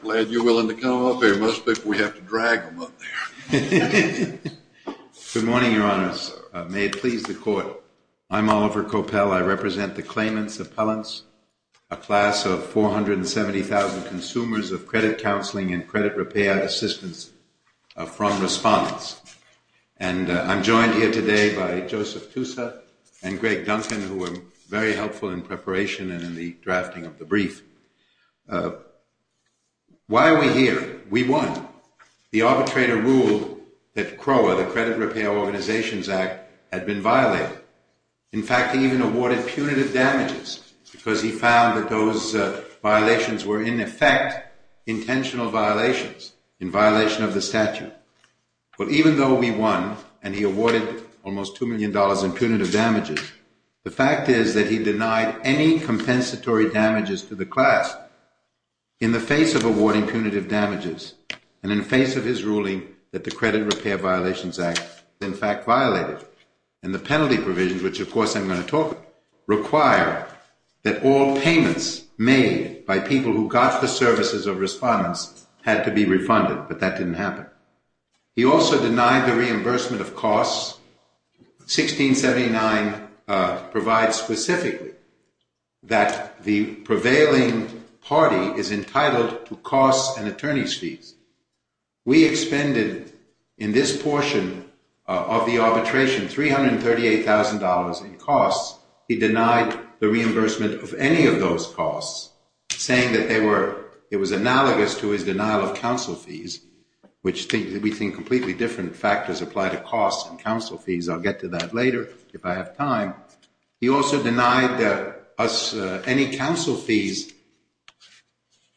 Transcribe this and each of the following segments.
Glad you're willing to come up here. Most people, we have to drag them up there. Good morning, Your Honors. May it please the court. I'm Oliver Coppell. I represent the claimants' appellants, a class of 470,000 consumers of credit counseling and credit repair assistance from respondents. And I'm joined here today by Joseph Tusa and Greg Duncan, who were very helpful in preparation and in the drafting of the brief. Why are we here? We won. The arbitrator ruled that CROA, the Credit Repair Organizations Act, had been violated. In fact, he even awarded punitive damages because he found that those violations were, in effect, intentional violations in violation of the statute. But even though we won and he awarded almost $2 million in punitive damages, the fact is that he awarded compensatory damages to the class in the face of awarding punitive damages and in face of his ruling that the Credit Repair Violations Act, in fact, violated. And the penalty provisions, which, of course, I'm going to talk about, require that all payments made by people who got the services of respondents had to be refunded. But that didn't happen. He also denied the reimbursement of costs. 1679 provides specifically that the prevailing party is entitled to costs and attorney's fees. We expended, in this portion of the arbitration, $338,000 in costs. He denied the reimbursement of any of those costs, saying that it was analogous to his denial of counsel fees, which we think completely different factors apply to costs and counsel fees. I'll get to that later, if I have time. He also denied any counsel fees,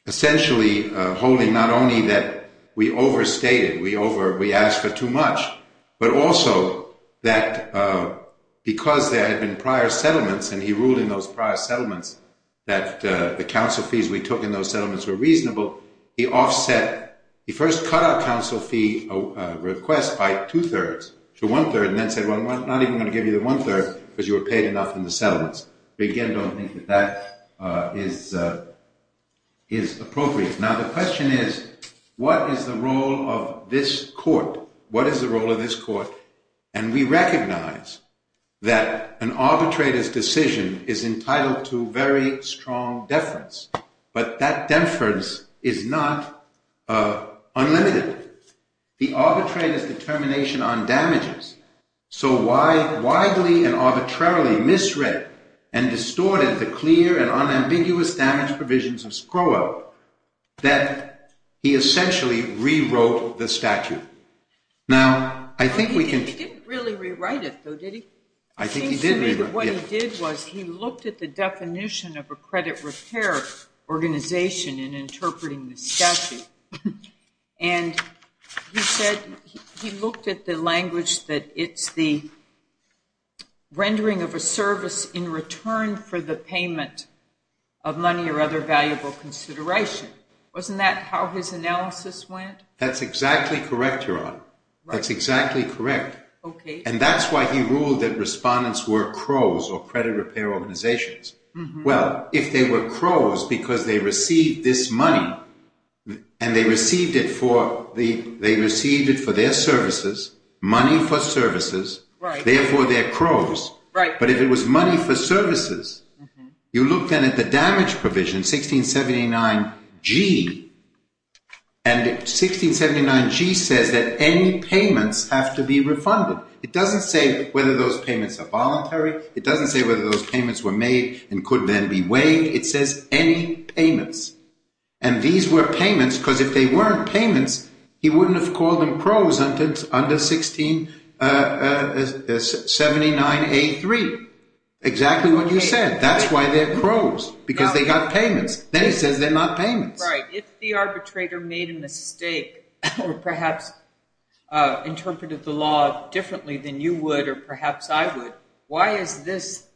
essentially holding not only that we overstated, we asked for too much, but also that because there had been prior settlements and he ruled in those prior settlements that the counsel fees we took in those settlements were reasonable, he offset. He first cut our counsel fee request by 2 thirds to 1 third and then said, well, I'm not even going to give you the 1 third because you were paid enough in the settlements. We again don't think that that is appropriate. Now, the question is, what is the role of this court? What is the role of this court? And we recognize that an arbitrator's decision is entitled to very strong deference. But that deference is not unlimited. The arbitrator's determination on damages, so widely and arbitrarily misread and distorted the clear and unambiguous damage provisions of Scrooge, that he essentially rewrote the statute. Now, I think we can- He didn't really rewrite it, though, did he? I think he did. What he did was he looked at the definition of a credit repair organization in interpreting the statute. And he said he looked at the language that it's the rendering of a service in return for the payment of money or other valuable consideration. Wasn't that how his analysis went? That's exactly correct, Your Honor. That's exactly correct. And that's why he ruled that respondents were CROWs, or credit repair organizations. Well, if they were CROWs because they received this money, and they received it for their services, money for services, therefore they're CROWs. But if it was money for services, you look then at the damage provision, 1679G, and 1679G says that any payments have to be refunded. It doesn't say whether those payments are voluntary. It doesn't say whether those payments were made and could then be waived. It says any payments. And these were payments, because if they weren't payments, he wouldn't have called them CROWs under 1679A3. Exactly what you said. That's why they're CROWs, because they got payments. Then he says they're not payments. Right, if the arbitrator made a mistake, or perhaps interpreted the law differently than you would, or perhaps I would, why is this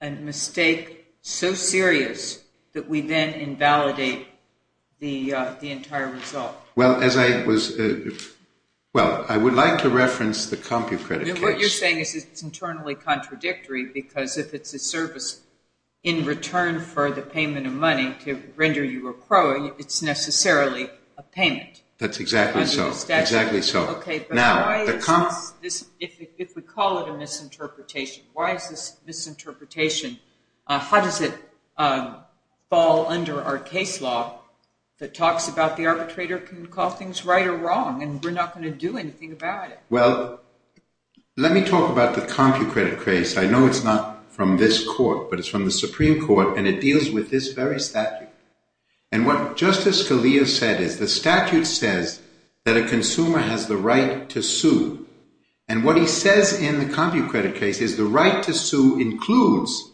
a mistake so serious that we then invalidate the entire result? Well, as I was, well, I would like to reference the CompuCredit case. No, what you're saying is it's internally contradictory, because if it's a service in return for the payment of money to render you a CROW, it's necessarily a payment. That's exactly so, exactly so. Okay, but why is this, if we call it a misinterpretation, why is this misinterpretation, how does it fall under our case law that talks about the arbitrator can call things right or wrong, and we're not gonna do anything about it? Well, let me talk about the CompuCredit case. I know it's not from this court, but it's from the Supreme Court, and it deals with this very statute. And what Justice Scalia said is the statute says that a consumer has the right to sue, and what he says in the CompuCredit case is the right to sue includes,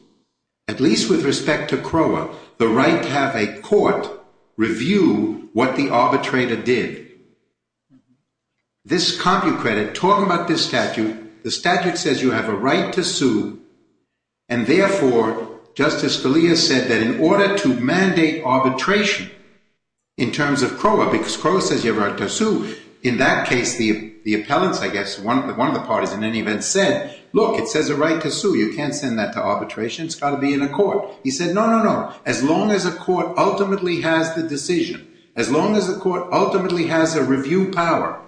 at least with respect to CROWA, the right to have a court review what the arbitrator did. This CompuCredit, talking about this statute, the statute says you have a right to sue, and therefore, Justice Scalia said that in order to mandate arbitration in terms of CROWA, because CROWA says you have a right to sue, in that case, the appellants, I guess, one of the parties in any event said, look, it says a right to sue, you can't send that to arbitration, it's gotta be in a court. He said, no, no, no, as long as a court ultimately has the decision, as long as the court ultimately has a review power,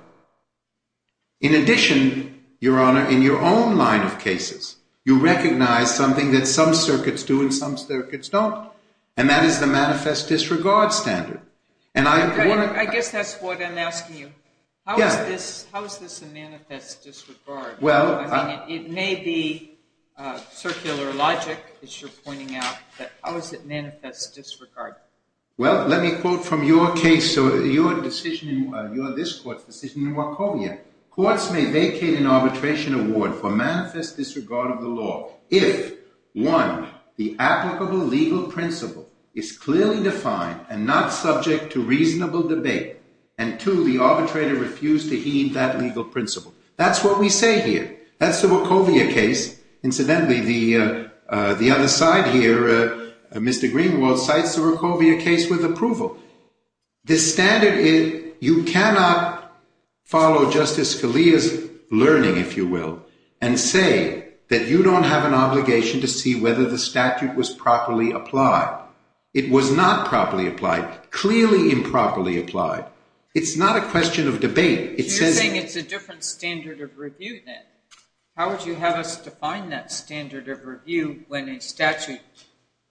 in addition, Your Honor, in your own line of cases, you recognize something that some circuits do and some circuits don't, and that is the manifest disregard standard. And I want to- I guess that's what I'm asking you. Yeah. How is this a manifest disregard? Well- I mean, it may be circular logic, as you're pointing out, but how is it manifest disregard? Well, let me quote from your case, so your decision in, your, this court's decision in Wachovia. Courts may vacate an arbitration award for manifest disregard of the law if, one, the applicable legal principle is clearly defined and not subject to reasonable debate, and two, the arbitrator refused to heed that legal principle. That's what we say here. That's the Wachovia case. Incidentally, the other side here, Mr. Greenwald, cites the Wachovia case with approval. The standard is, you cannot follow Justice Scalia's learning, if you will, and say that you don't have an obligation to see whether the statute was properly applied. It was not properly applied, clearly improperly applied. It's not a question of debate. It says- So you're saying it's a different standard of review then? How would you have us define that standard of review when a statute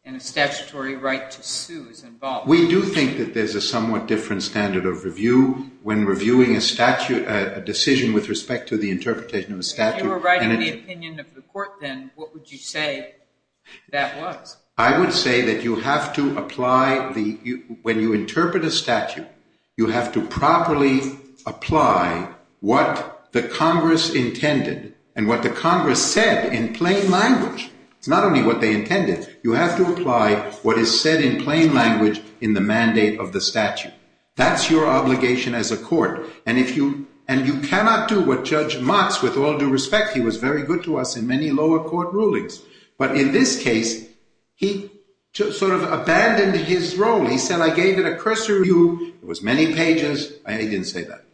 and a statutory right to sue is involved? We do think that there's a somewhat different standard of review when reviewing a statute, a decision with respect to the interpretation of a statute. If you were writing the opinion of the court then, what would you say that was? I would say that you have to apply the, when you interpret a statute, you have to properly apply what the Congress intended and what the Congress said in plain language. It's not only what they intended. You have to apply what is said in plain language in the mandate of the statute. That's your obligation as a court. And you cannot do what Judge Motz, with all due respect, he was very good to us in many lower court rulings. But in this case, he sort of abandoned his role. He said, I gave it a cursory review. It was many pages. I didn't say that.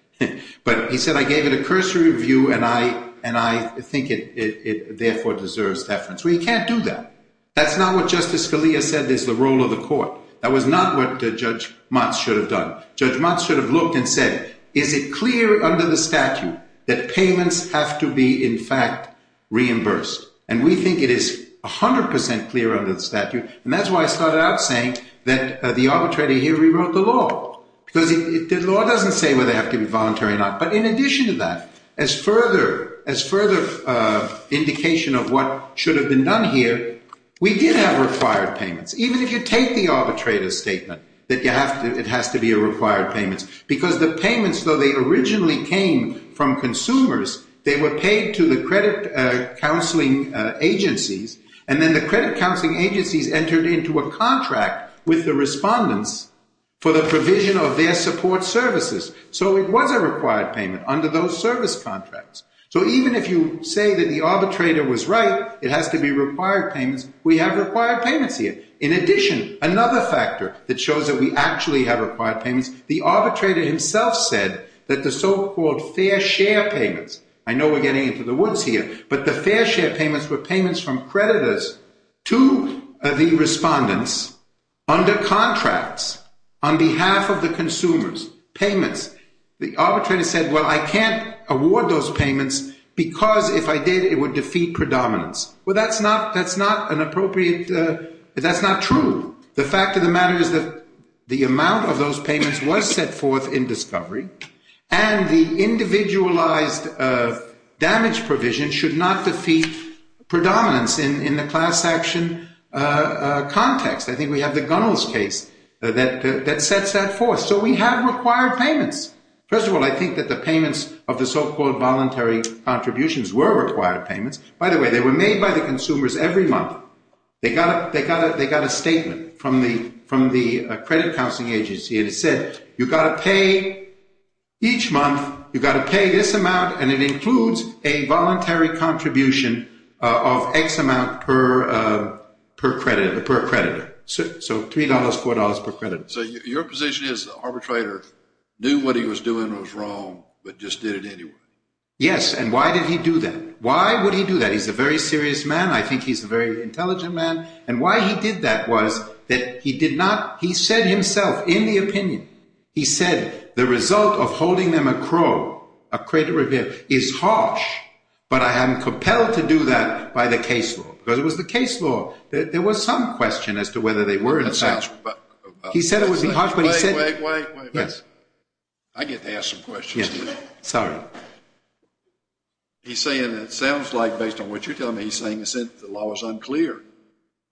But he said, I gave it a cursory review and I think it therefore deserves deference. We can't do that. That's not what Justice Scalia said is the role of the court. That was not what Judge Motz should have done. Judge Motz should have looked and said, is it clear under the statute that payments have to be in fact reimbursed? And we think it is 100% clear under the statute. And that's why I started out saying that the arbitrator here rewrote the law. Because the law doesn't say whether they have to be voluntary or not. But in addition to that, as further indication of what should have been done here, we did have required payments. Even if you take the arbitrator's statement that it has to be a required payment. Because the payments though, they originally came from consumers. They were paid to the credit counseling agencies. And then the credit counseling agencies entered into a contract with the respondents for the provision of their support services. So it was a required payment under those service contracts. So even if you say that the arbitrator was right, it has to be required payments, we have required payments here. In addition, another factor that shows that we actually have required payments, the arbitrator himself said that the so-called fair share payments, I know we're getting into the woods here, but the fair share payments were payments from creditors to the respondents under contracts on behalf of the consumers, payments. The arbitrator said, well, I can't award those payments because if I did, it would defeat predominance. Well, that's not an appropriate, that's not true. The fact of the matter is that the amount of those payments was set forth in discovery and the individualized damage provision should not defeat predominance in the class action context. I think we have the Gunnels case that sets that forth. So we have required payments. First of all, I think that the payments of the so-called voluntary contributions were required payments. By the way, they were made by the consumers every month. They got a statement from the credit counseling agency and it said, you got to pay each month, you got to pay this amount and it includes a voluntary contribution of X amount per creditor. So $3, $4 per creditor. So your position is the arbitrator knew what he was doing was wrong, but just did it anyway. Yes, and why did he do that? Why would he do that? He's a very serious man. I think he's a very intelligent man. And why he did that was that he did not, he said himself in the opinion, he said, the result of holding them accro, a creditor review is harsh, but I am compelled to do that by the case law because it was the case law. There was some question as to whether they were in fact. He said it was harsh, but he said. Wait, wait, wait. I get to ask some questions. Sorry. He's saying it sounds like based on what you're telling me, he's saying the law is unclear.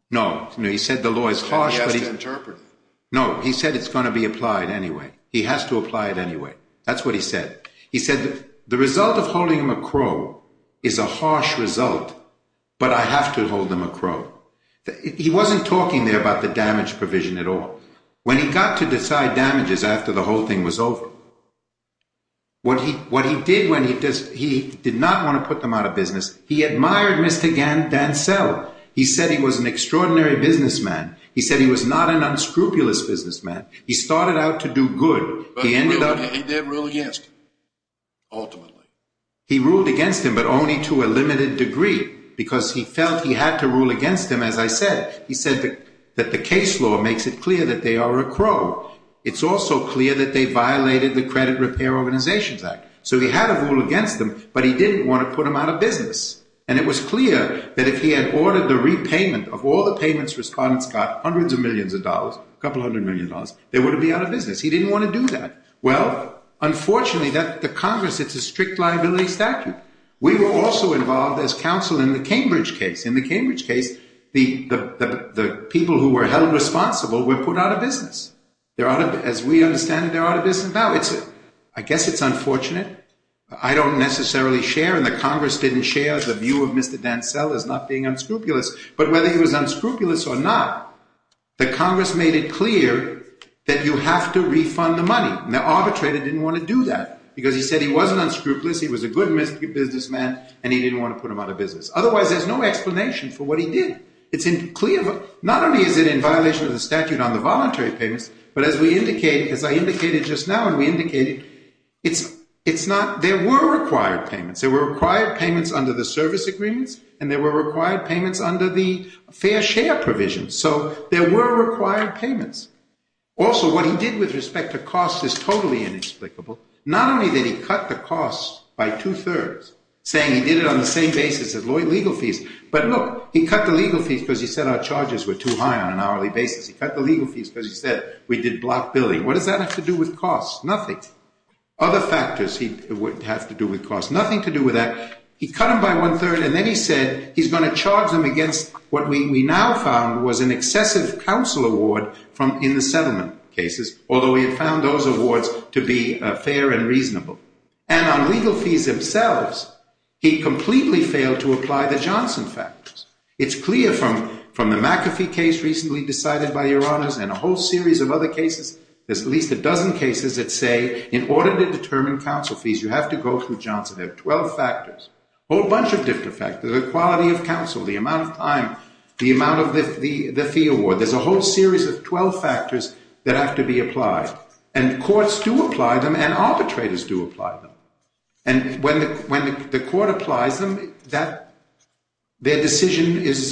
No, he said the law is harsh, but he has to interpret it. No, he said it's gonna be applied anyway. He has to apply it anyway. That's what he said. He said, the result of holding them accro is a harsh result, but I have to hold them accro. He wasn't talking there about the damage provision at all. When he got to decide damages after the whole thing was over, what he did when he did not wanna put them out of business, he admired Mr. Dansell. He said he was an extraordinary businessman. He said he was not an unscrupulous businessman. He started out to do good. He ended up- But he didn't rule against him, ultimately. He ruled against him, but only to a limited degree because he felt he had to rule against him, as I said. He said that the case law makes it clear that they are accro. It's also clear that they violated the Credit Repair Organizations Act. So he had to rule against them, but he didn't wanna put them out of business. And it was clear that if he had ordered the repayment of all the payments respondents got, hundreds of millions of dollars, couple hundred million dollars, they wouldn't be out of business. He didn't wanna do that. Well, unfortunately, the Congress, it's a strict liability statute. We were also involved as counsel in the Cambridge case. In the Cambridge case, the people who were held responsible were put out of business. As we understand it, they're out of business now. I guess it's unfortunate. I don't necessarily share, and the Congress didn't share the view of Mr. Dansell as not being unscrupulous. But whether he was unscrupulous or not, the Congress made it clear that you have to refund the money. The arbitrator didn't wanna do that because he said he wasn't unscrupulous, he was a good businessman, and he didn't wanna put them out of business. Otherwise, there's no explanation for what he did. It's clear, not only is it in violation of the statute on the voluntary payments, but as I indicated just now, and we indicated, there were required payments. There were required payments under the service agreements, and there were required payments under the fair share provision. So there were required payments. Also, what he did with respect to cost is totally inexplicable. Not only did he cut the costs by 2 3rds, saying he did it on the same basis as legal fees, but look, he cut the legal fees because he said our charges were too high on an hourly basis. He cut the legal fees because he said we did block billing. What does that have to do with costs? Nothing. Other factors it would have to do with costs. Nothing to do with that. He cut them by 1 3rd, and then he said he's gonna charge them against what we now found was an excessive counsel award from in the settlement cases, although he had found those awards to be fair and reasonable. And on legal fees themselves, he completely failed to apply the Johnson factors. It's clear from the McAfee case recently decided by your honors, and a whole series of other cases, there's at least a dozen cases that say in order to determine counsel fees, you have to go through Johnson. There are 12 factors, a whole bunch of different factors, the quality of counsel, the amount of time, the amount of the fee award. There's a whole series of 12 factors that have to be applied. And courts do apply them, and arbitrators do apply them. And when the court applies them, their decision is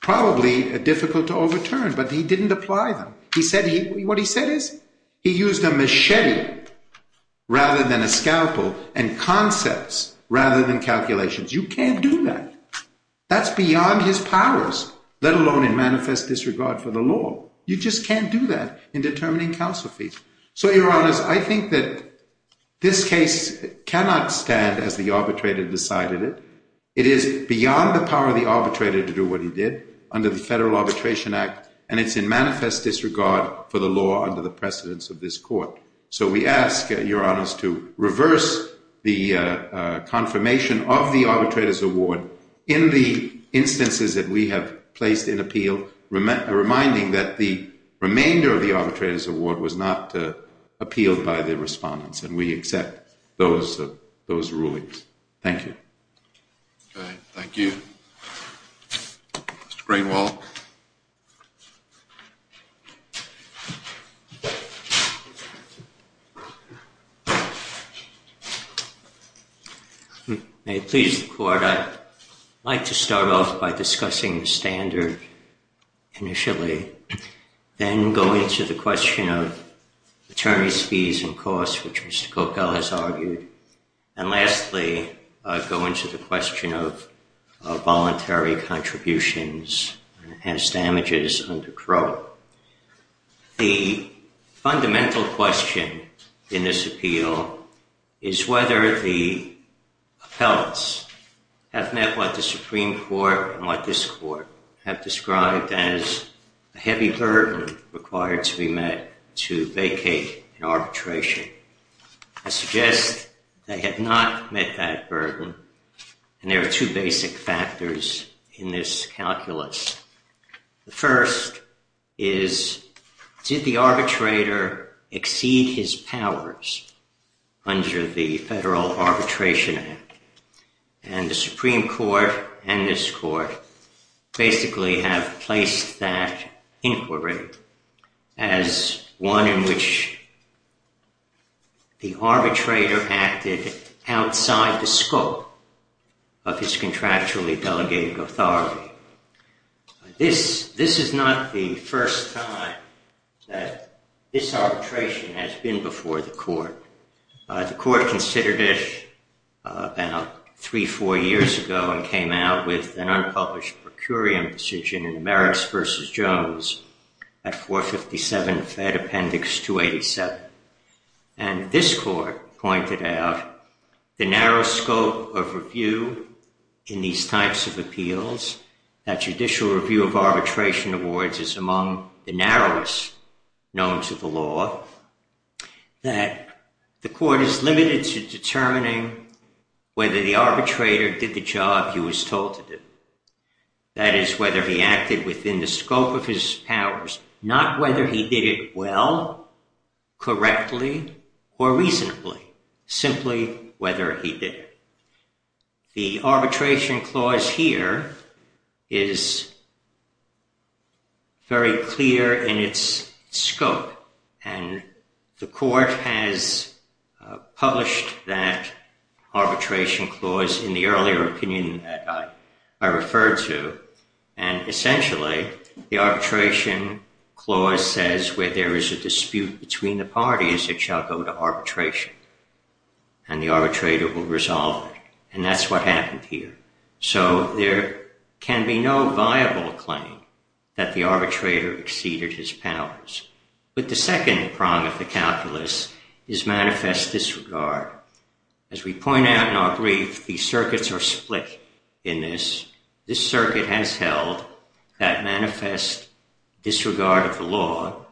probably difficult to overturn, but he didn't apply them. He said, what he said is, he used a machete rather than a scalpel and concepts rather than calculations. You can't do that. That's beyond his powers, let alone in manifest disregard for the law. You just can't do that in determining counsel fees. So your honors, I think that this case cannot stand as the arbitrator decided it. It is beyond the power of the arbitrator to do what he did under the Federal Arbitration Act, and it's in manifest disregard for the law under the precedence of this court. So we ask your honors to reverse the confirmation of the arbitrator's award in the instances that we have placed in appeal, reminding that the remainder of the arbitrator's award was not appealed by the respondents, and we accept those rulings. Thank you. Thank you. Mr. Greenwald. Thank you. May it please the court, I'd like to start off by discussing the standard initially, then go into the question of attorney's fees and costs, which Mr. Copell has argued. And lastly, go into the question of voluntary contributions and enhanced damages under Crowe. The fundamental question in this appeal is whether the appellants have met what the Supreme Court and what this court have described as a heavy burden required to be met to vacate an arbitration. I suggest they have not met that burden, and there are two basic factors in this calculus. The first is, did the arbitrator exceed his powers under the Federal Arbitration Act? And the Supreme Court and this court basically have placed that inquiry at the level of his contractually delegated authority. This is not the first time that this arbitration has been before the court. The court considered it about three, four years ago and came out with an unpublished per curiam decision in the Marist versus Jones at 457 Fed Appendix 287. And this court pointed out the narrow scope of review in these types of appeals, that judicial review of arbitration awards is among the narrowest known to the law, that the court is limited to determining whether the arbitrator did the job he was told to do. That is, whether he acted within the scope of his powers, not whether he did it well, correctly, or reasonably, simply whether he did it. The arbitration clause here is very clear in its scope and the court has published that arbitration clause in the earlier opinion that I referred to. And essentially, the arbitration clause says where there is a dispute between the parties, it shall go to arbitration and the arbitrator will resolve it. And that's what happened here. So there can be no viable claim that the arbitrator exceeded his powers. But the second prong of the calculus is manifest disregard. As we point out in our brief, the circuits are split in this. This circuit has held that manifest disregard of the law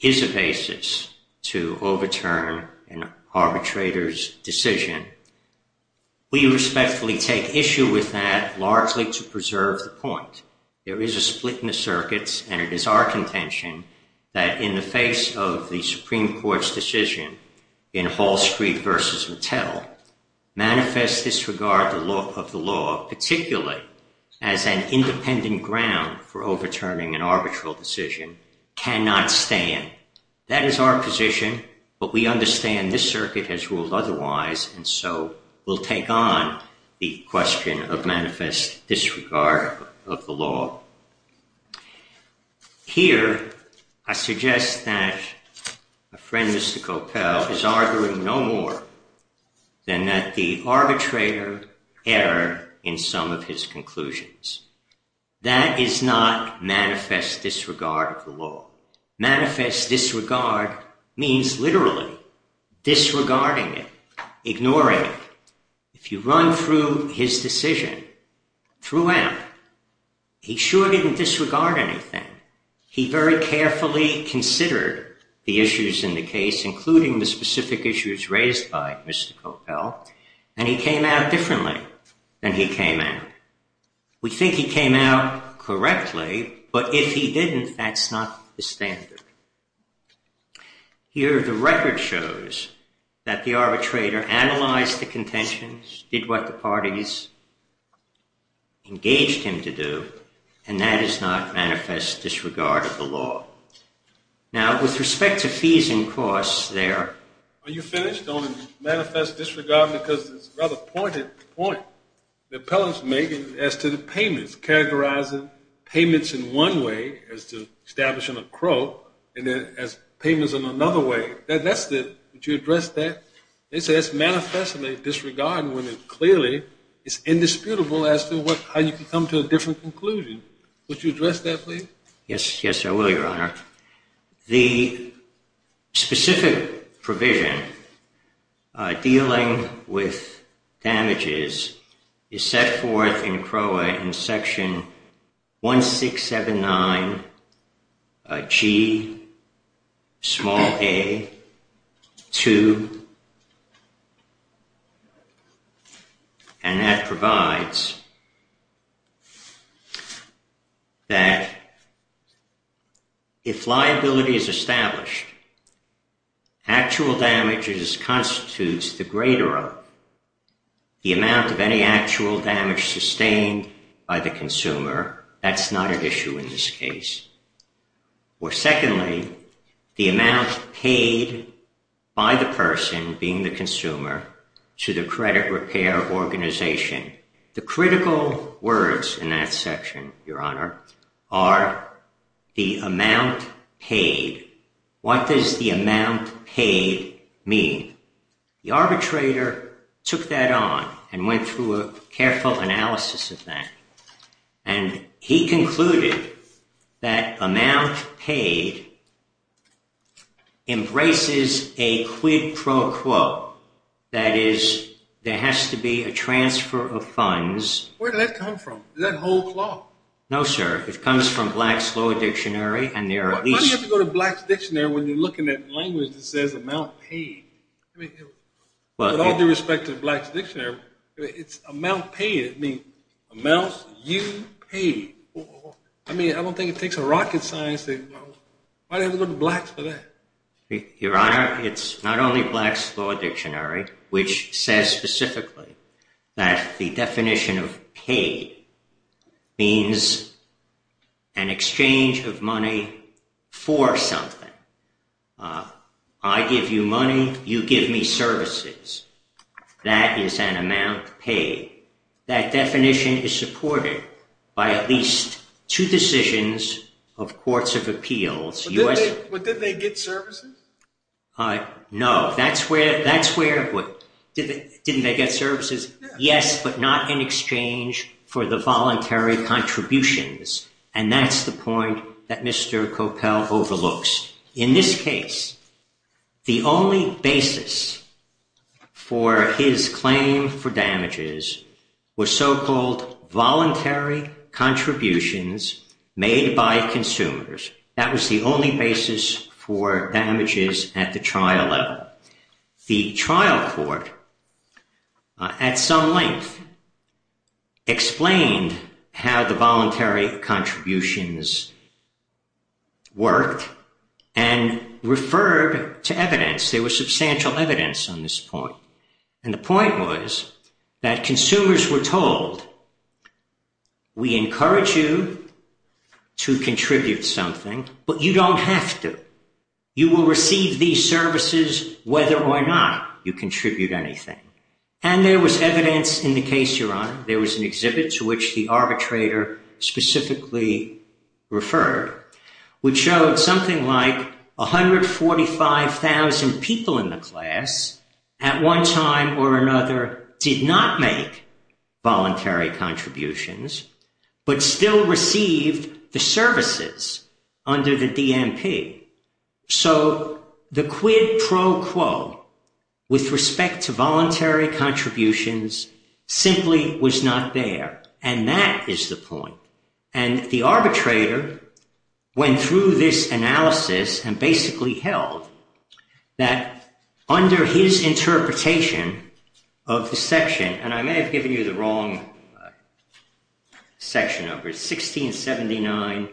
is a basis to overturn an arbitrator's decision. We respectfully take issue with that largely to preserve the point. There is a split in the circuits and it is our contention that in the face of the Supreme Court's decision in Hall Street versus Mattel, manifest disregard of the law, particularly as an independent ground for overturning an arbitral decision cannot stand. That is our position, but we understand this circuit has ruled otherwise. And so we'll take on the question of manifest disregard of the law. Here, I suggest that a friend, Mr. Coppell, is arguing no more than that the arbitrator error in some of his conclusions. That is not manifest disregard of the law. Manifest disregard means literally disregarding it, ignoring it. If you run through his decision throughout, he sure didn't disregard anything. He very carefully considered the issues in the case, including the specific issues raised by Mr. Coppell, and he came out differently than he came out. We think he came out correctly, but if he didn't, that's not the standard. Here, the record shows that the arbitrator analyzed the contentions, did what the parties engaged him to do, and that is not manifest disregard of the law. Now, with respect to fees and costs there. Are you finished on manifest disregard because it's a rather pointed point. The appellant's making as to the payments, characterizing payments in one way as to establishing a crook, and then as payments in another way. That's the, would you address that? They say it's manifestly disregard when it clearly is indisputable as to how you can come to a different conclusion. Would you address that, please? Yes, yes, I will, Your Honor. The specific provision dealing with damages is set forth in CROA in section 1679Ga2, and that provides that if liability is established, actual damages constitutes the greater of the amount of any actual damage sustained by the consumer. That's not an issue in this case. Or secondly, the amount paid by the person, being the consumer, to the credit repair organization. The critical words in that section, Your Honor, are the amount paid. What does the amount paid mean? The arbitrator took that on and went through a careful analysis of that, and he concluded that amount paid embraces a quid pro quo. That is, there has to be a transfer of funds. Where did that come from? Is that whole CLAW? No, sir, it comes from Black's Law Dictionary, and there are at least- Black's Dictionary, when you're looking at language that says amount paid, with all due respect to Black's Dictionary, it's amount paid. It means amounts you paid. I mean, I don't think it takes a rocket science to go to Black's for that. Your Honor, it's not only Black's Law Dictionary, which says specifically that the definition of paid means an exchange of money for something. I give you money, you give me services. That is an amount paid. That definition is supported by at least two decisions of courts of appeals. But didn't they get services? No, that's where, didn't they get services? Yes, but not in exchange for the voluntary contributions. And that's the point that Mr. Coppell overlooks. In this case, the only basis for his claim for damages were so-called voluntary contributions made by consumers. That was the only basis for damages at the trial level. The trial court, at some length, explained how the voluntary contributions worked and referred to evidence. There was substantial evidence on this point. And the point was that consumers were told, we encourage you to contribute something, but you don't have to. You will receive these services whether or not you contribute anything. And there was evidence in the case, Your Honor, there was an exhibit to which the arbitrator specifically referred, which showed something like 145,000 people in the class at one time or another did not make voluntary contributions, but still received the services under the DMP. So the quid pro quo with respect to voluntary contributions simply was not there. And that is the point. And the arbitrator went through this analysis and basically held that under his interpretation of the section, and I may have given you the wrong, section number, 1679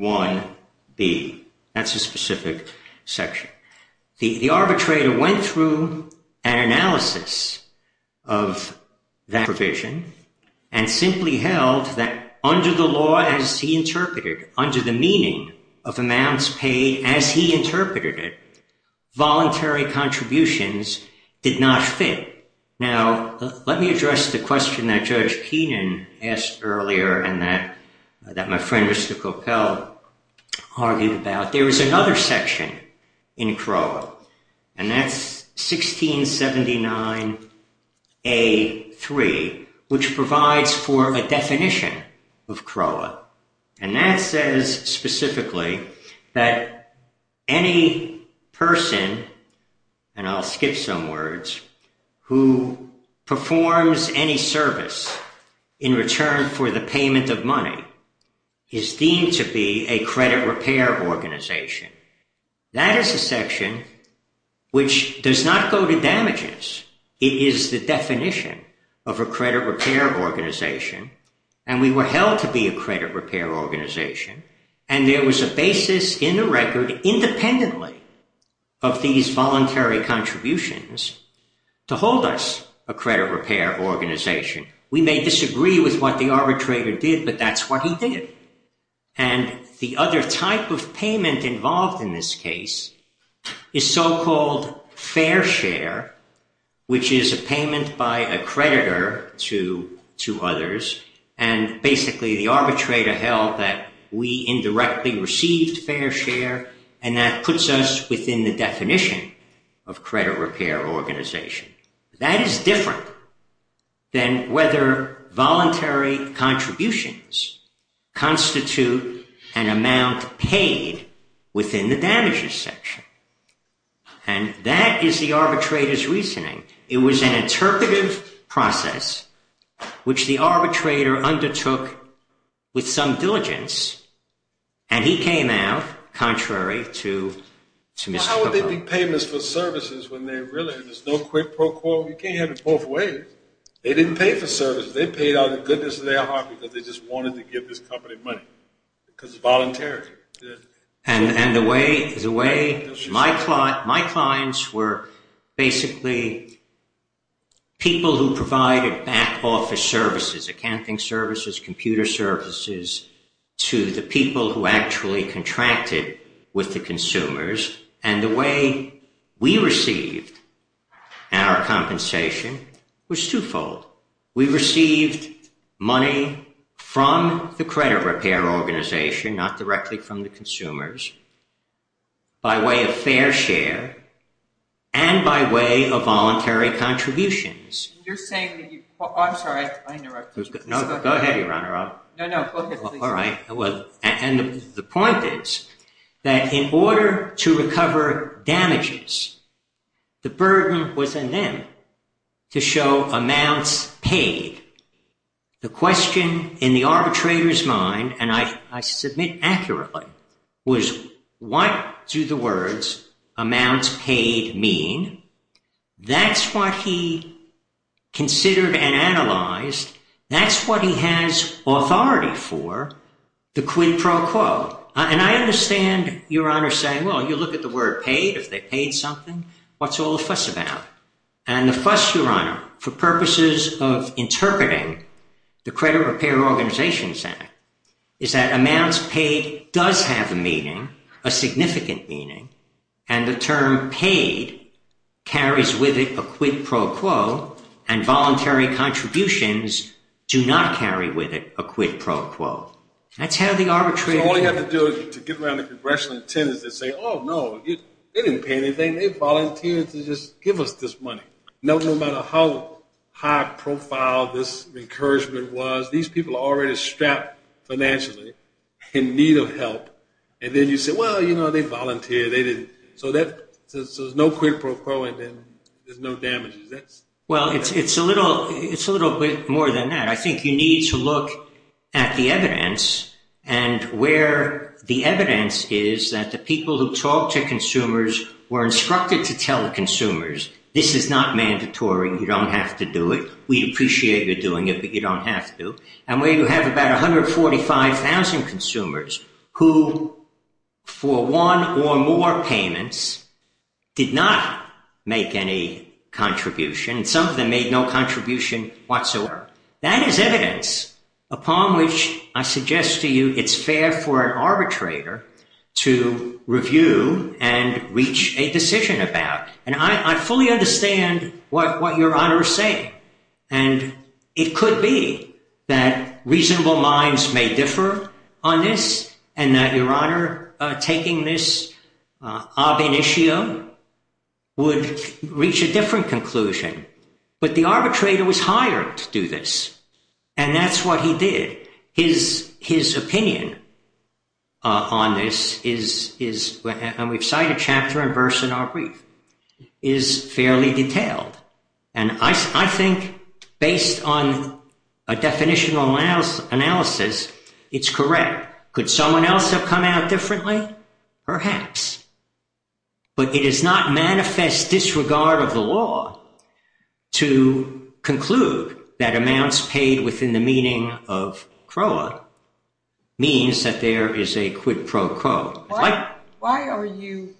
GA1B. That's a specific section. The arbitrator went through an analysis of that provision and simply held that under the law as he interpreted, under the meaning of amounts paid as he interpreted it, voluntary contributions did not fit. Now, let me address the question that Judge Keenan asked earlier and that my friend, Mr. Coppell, argued about. There was another section in CROA, and that's 1679 A3, which provides for a definition of CROA. And that says specifically that any person, and I'll skip some words, who performs any service in return for the payment of money is deemed to be a credit repair organization. That is a section which does not go to damages. It is the definition of a credit repair organization. And we were held to be a credit repair organization. And there was a basis in the record independently of these voluntary contributions to hold us a credit repair organization. We may disagree with what the arbitrator did, but that's what he did. And the other type of payment involved in this case is so-called fair share, which is a payment by a creditor to others. And basically the arbitrator held that we indirectly received fair share and that puts us within the definition of credit repair organization. That is different than whether voluntary contributions constitute an amount paid within the damages section. And that is the arbitrator's reasoning. It was an interpretive process, which the arbitrator undertook with some diligence. And he came out contrary to Mr. Cooper. Well, how would they be payments for services when there's no quid pro quo? You can't have it both ways. They didn't pay for services. They paid out of the goodness of their heart because they just wanted to give this company money because it's voluntary. And the way my clients were basically people who provided back office services, accounting services, computer services, to the people who actually contracted with the consumers. And the way we received our compensation was twofold. We received money from the credit repair organization, not directly from the consumers, by way of fair share and by way of voluntary contributions. You're saying that you, I'm sorry, I interrupted you. No, go ahead, Your Honor. No, no, go ahead. All right, well, and the point is that in order to recover damages, the burden was on them to show amounts paid. The question in the arbitrator's mind, and I submit accurately, was what do the words amounts paid mean? That's what he considered and analyzed. That's what he has authority for, the quid pro quo. And I understand Your Honor saying, well, you look at the word paid, if they paid something, what's all the fuss about? And the fuss, Your Honor, for purposes of interpreting the Credit Repair Organizations Act is that amounts paid does have a meaning, a significant meaning, and the term paid carries with it a quid pro quo and voluntary contributions do not carry with it a quid pro quo. That's how the arbitrator- So all you have to do to get around the congressional attendance is say, oh, no, they didn't pay anything, they volunteered to just give us this money. No matter how high profile this encouragement was, these people are already strapped financially in need of help. And then you say, well, you know, they volunteered, they didn't, so there's no quid pro quo and then there's no damages. Well, it's a little bit more than that. I think you need to look at the evidence and where the evidence is that the people who talk to consumers were instructed to tell the consumers, this is not mandatory, you don't have to do it. We appreciate you're doing it, but you don't have to. And where you have about 145,000 consumers who for one or more payments did not make any contribution, and some of them made no contribution whatsoever, that is evidence upon which I suggest to you it's fair for an arbitrator to review and reach a decision about. And I fully understand what your Honor is saying. And it could be that reasonable minds may differ on this and that your Honor taking this ob initio would reach a different conclusion, but the arbitrator was hired to do this. And that's what he did. His opinion on this is, and we've cited chapter and verse in our brief, is fairly detailed. And I think based on a definitional analysis, it's correct. Could someone else have come out differently? Perhaps, but it is not manifest disregard of the law to conclude that amounts paid within the meaning of CROA means that there is a quid pro quo. Why are you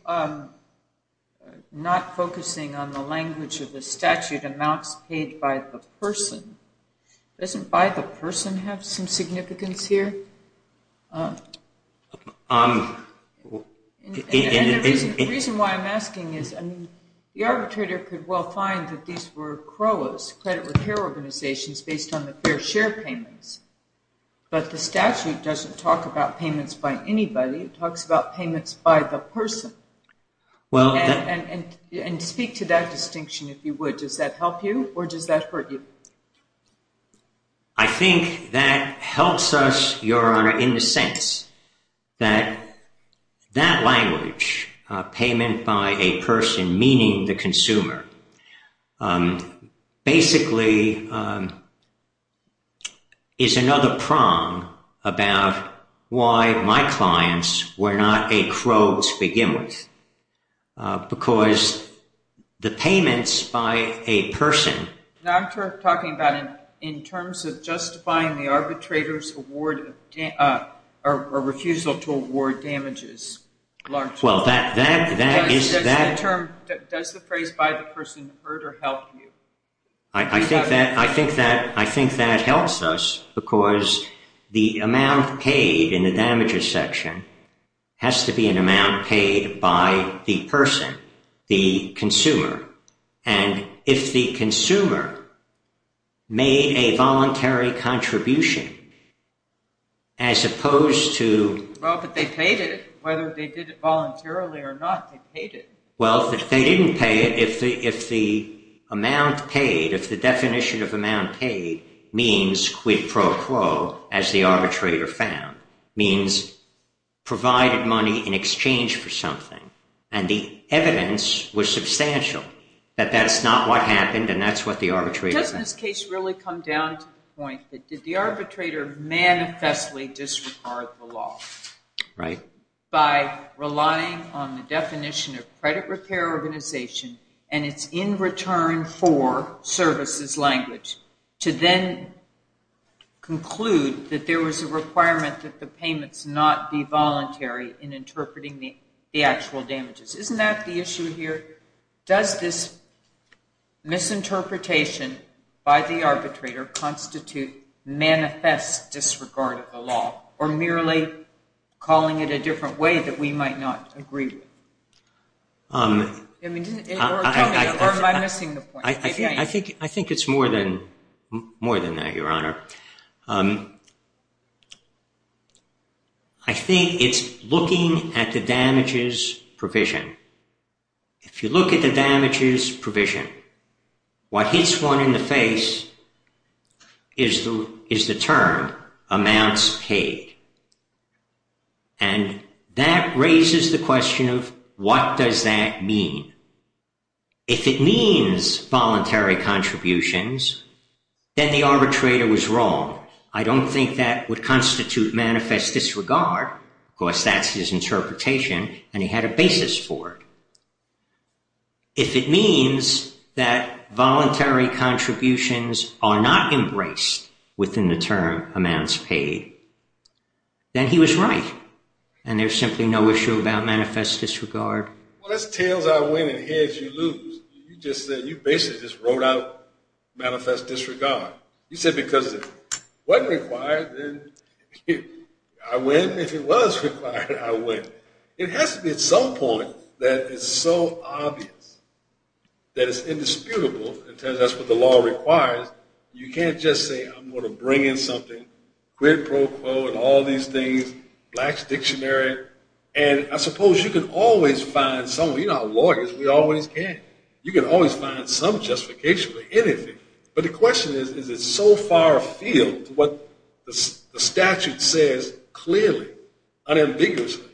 not focusing on the language of the statute amounts paid by the person? Doesn't by the person have some significance here? And the reason why I'm asking is, the arbitrator could well find that these were CROAs, credit repair organizations, based on the fair share payments. But the statute doesn't talk about payments by anybody. It talks about payments by the person. And speak to that distinction if you would. Does that help you or does that hurt you? I think that helps us, Your Honor, in the sense that that language, payment by a person, meaning the consumer, basically is another prong about why my clients were not a CROA to begin with. Because the payments by a person. Now, I'm talking about in terms of justifying the arbitrator's refusal to award damages. Well, that is that. Does the phrase by the person hurt or help you? I think that helps us because the amount paid in the damages section has to be an amount paid by the person, the consumer. And if the consumer made a voluntary contribution, as opposed to- Well, but they paid it, whether they did it voluntarily or not, they paid it. Well, if they didn't pay it, if the amount paid, if the definition of amount paid means quid pro quo, as the arbitrator found, means provided money in exchange for something. And the evidence was substantial that that's not what happened and that's what the arbitrator- Doesn't this case really come down to the point that did the arbitrator manifestly disregard the law? Right. By relying on the definition of credit repair organization and it's in return for services language to then conclude that there was a requirement that the payments not be voluntary in interpreting the actual damages. Isn't that the issue here? Does this misinterpretation by the arbitrator constitute manifest disregard of the law or merely calling it a different way that we might not agree with? I mean, or am I missing the point? I think it's more than that, Your Honor. I think it's looking at the damages provision. If you look at the damages provision, what hits one in the face is the term amounts paid. And that raises the question of what does that mean? If it means voluntary contributions, then the arbitrator was wrong. I don't think that would constitute manifest disregard. Of course, that's his interpretation and he had a basis for it. If it means that voluntary contributions are not embraced within the term amounts paid, then he was right. And there's simply no issue about manifest disregard. Well, that's tails are winning, heads you lose. You just said, you basically just wrote out manifest disregard. You said because it wasn't required, then I win. If it was required, I win. It has to be at some point that it's so obvious that it's indisputable and tells us what the law requires. You can't just say I'm gonna bring in something quid pro quo and all these things, black's dictionary. And I suppose you can always find some, you know how lawyers, we always can. You can always find some justification for anything. But the question is, is it so far afield to what the statute says clearly, unambiguously,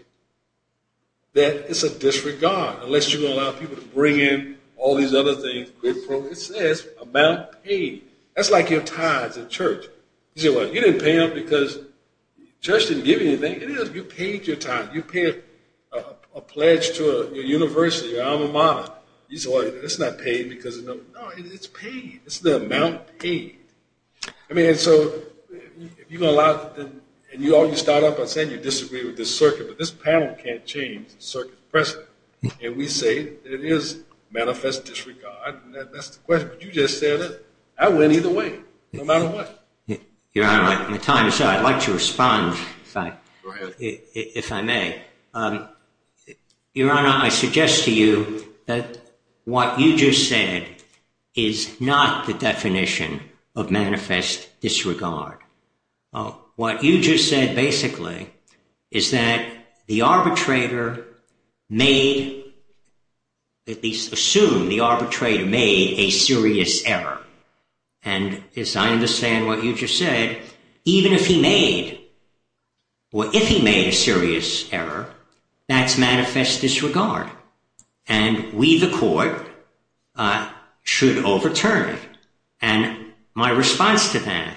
that it's a disregard unless you allow people to bring in all these other things, quid pro. It says amount paid. That's like your tithes at church. You didn't pay up because church didn't give you anything. It is, you paid your tithe. You paid a pledge to a university, your alma mater. You say, well, it's not paid because of, no, it's paid. It's the amount paid. I mean, and so, if you're gonna allow, and you always start off by saying you disagree with this circuit, but this panel can't change the circuit's precedent. And we say that it is manifest disregard. That's the question, but you just said it. I win either way, no matter what. Your Honor, at the time, I'd like to respond, if I may. Your Honor, I suggest to you that what you just said is not the definition of manifest disregard. What you just said, basically, is that the arbitrator made, at least assume the arbitrator made a serious error. And as I understand what you just said, even if he made, or if he made a serious error, that's manifest disregard. And we, the court, should overturn it. And my response to that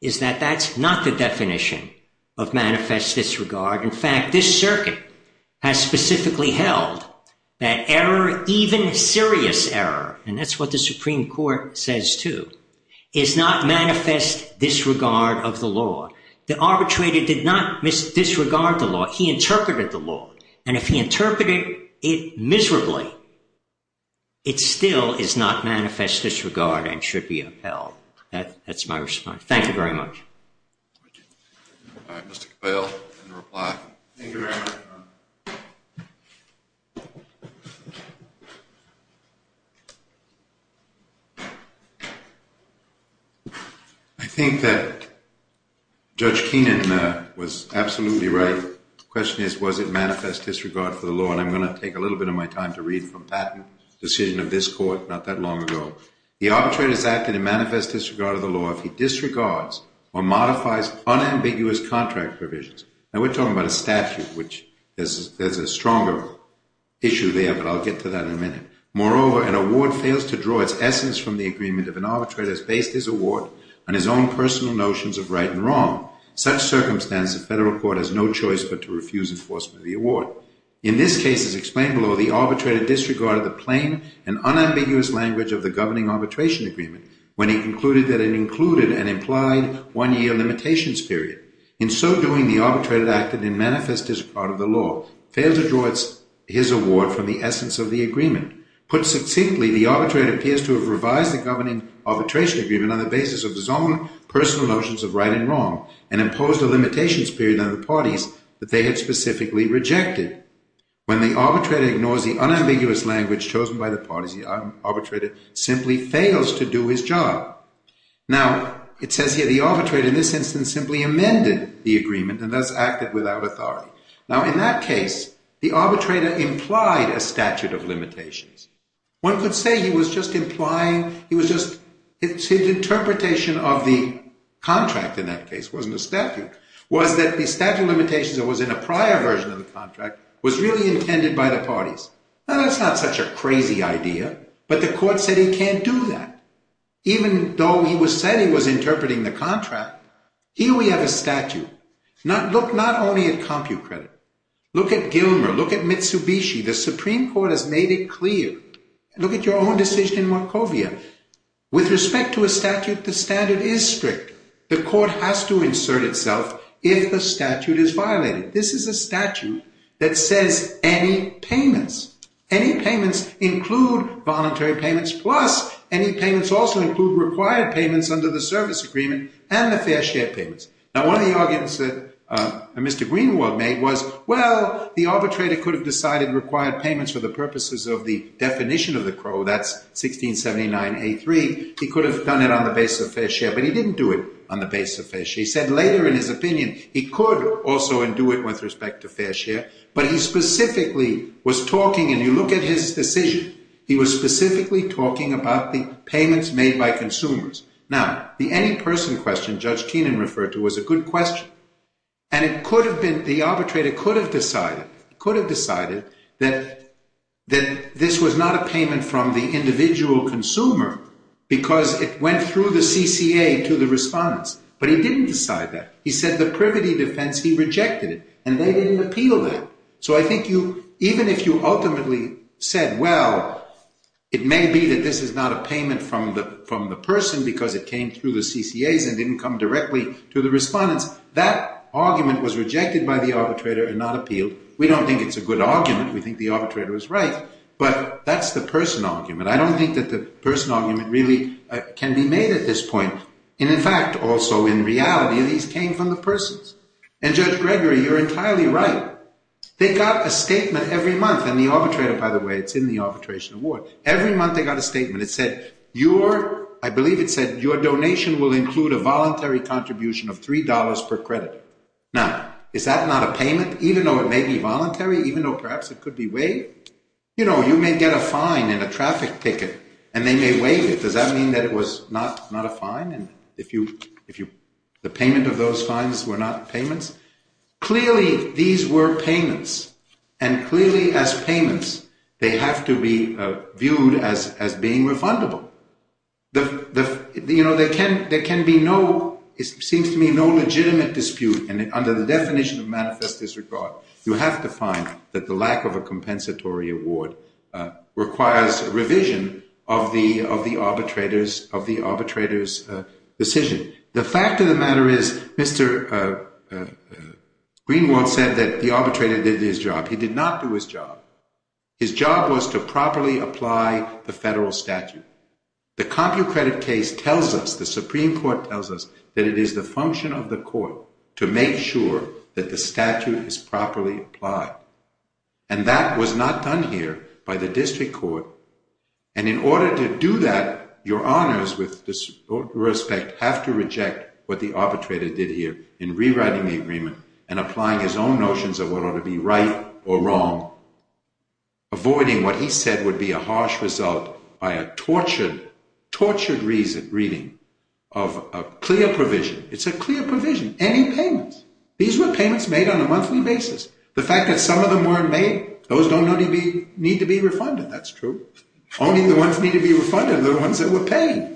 is that that's not the definition of manifest disregard. In fact, this circuit has specifically held that error, even serious error, and that's what the Supreme Court says too, is not manifest disregard of the law. The arbitrator did not disregard the law. He interpreted the law. And if he interpreted it miserably, it still is not manifest disregard and should be upheld. That's my response. Thank you very much. All right, Mr. Capel, your reply. Thank you, Your Honor. I think that Judge Keenan was absolutely right. The question is, was it manifest disregard for the law? And I'm gonna take a little bit of my time to read from Patton's decision of this court not that long ago. The arbitrator's act in a manifest disregard of the law if he disregards or modifies unambiguous contract provisions. Now, we're talking about a statute, which there's a stronger issue there, but I'll get to that in a minute. Moreover, an award fails to draw its essence from the agreement of an arbitrator who has based his award on his own personal notions of right and wrong. Such circumstance, the federal court has no choice but to refuse enforcement of the award. In this case, as explained below, the arbitrator disregarded the plain and unambiguous language of the governing arbitration agreement when he concluded that it included an implied one-year limitations period. In so doing, the arbitrator acted in manifest disregard of the law, failed to draw his award from the essence of the agreement. Put succinctly, the arbitrator appears to have revised the governing arbitration agreement on the basis of his own personal notions of right and wrong and imposed a limitations period on the parties that they had specifically rejected. When the arbitrator ignores the unambiguous language chosen by the parties, the arbitrator simply fails to do his job. Now, it says here the arbitrator in this instance simply amended the agreement and thus acted without authority. Now, in that case, the arbitrator implied a statute of limitations. One could say he was just implying, he was just, it's an interpretation of the contract in that case, it wasn't a statute, was that the statute of limitations that was in a prior version of the contract was really intended by the parties. Now, that's not such a crazy idea, but the court said he can't do that. Even though he said he was interpreting the contract, here we have a statute. Look not only at CompuCredit, look at Gilmer, look at Mitsubishi. The Supreme Court has made it clear. Look at your own decision in Markovia. With respect to a statute, the standard is strict. The court has to insert itself if the statute is violated. This is a statute that says any payments, any payments include voluntary payments plus any payments also include required payments under the service agreement and the fair share payments. Now, one of the arguments that Mr. Greenwald made was, well, the arbitrator could have decided required payments for the purposes of the definition of the Crow, that's 1679A3. He could have done it on the basis of fair share, but he didn't do it on the basis of fair share. He said later in his opinion, he could also do it with respect to fair share, but he specifically was talking, and you look at his decision, he was specifically talking about the payments made by consumers. Now, the any person question Judge Keenan referred to was a good question. And it could have been, the arbitrator could have decided, could have decided that this was not a payment from the individual consumer because it went through the CCA to the respondents, but he didn't decide that. He said the privity defense, he rejected it, and they didn't appeal that. So I think you, even if you ultimately said, well, it may be that this is not a payment from the person because it came through the CCAs and didn't come directly to the respondents, that argument was rejected by the arbitrator and not appealed. We don't think it's a good argument. We think the arbitrator was right, but that's the person argument. I don't think that the person argument really can be made at this point. And in fact, also in reality, these came from the persons. And Judge Gregory, you're entirely right. They got a statement every month, and the arbitrator, by the way, it's in the arbitration award. Every month they got a statement. It said, your, I believe it said, your donation will include a voluntary contribution of $3 per credit. Now, is that not a payment? Even though it may be voluntary, even though perhaps it could be waived, you know, you may get a fine and a traffic ticket and they may waive it. Does that mean that it was not a fine? And if you, the payment of those fines were not payments? Clearly, these were payments. And clearly as payments, they have to be viewed as being refundable. You know, there can be no, it seems to me no legitimate dispute. And under the definition of manifest disregard, you have to find that the lack of a compensatory award requires revision of the arbitrator's decision. The fact of the matter is, Mr. Greenwald said that the arbitrator did his job. He did not do his job. His job was to properly apply the federal statute. The CompuCredit case tells us, the Supreme Court tells us, that it is the function of the court to make sure that the statute is properly applied. And that was not done here by the district court. And in order to do that, your honors with respect have to reject what the arbitrator did here in rewriting the agreement and applying his own notions of what ought to be right or wrong, avoiding what he said would be a harsh result by a tortured reading of a clear provision. It's a clear provision. And the fact of the matter is, the arbitrator did not make any compensation, any payments. These were payments made on a monthly basis. The fact that some of them weren't made, those don't need to be refunded, that's true. Only the ones that need to be refunded are the ones that were paid.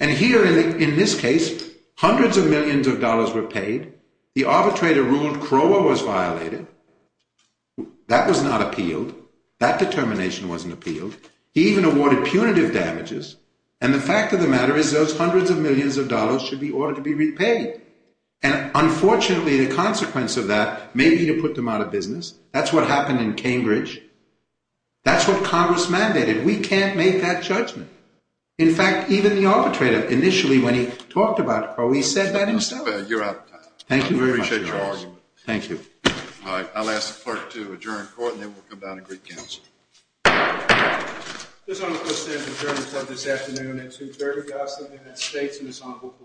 And here in this case, hundreds of millions of dollars were paid. The arbitrator ruled Crowe was violated. That was not appealed. That determination wasn't appealed. He even awarded punitive damages. And the fact of the matter is, those hundreds of millions of dollars should be ordered to be repaid. And unfortunately, the consequence of that may be to put them out of business. That's what happened in Cambridge. That's what Congress mandated. We can't make that judgment. In fact, even the arbitrator, initially when he talked about Crowe, he said that himself. You're out of time. Thank you very much. I appreciate your argument. Thank you. All right, I'll ask the clerk to adjourn court and then we'll come down and greet counsel. This item of business is adjourned until this afternoon. That's adjourned, guys. The United States Ensemble Court.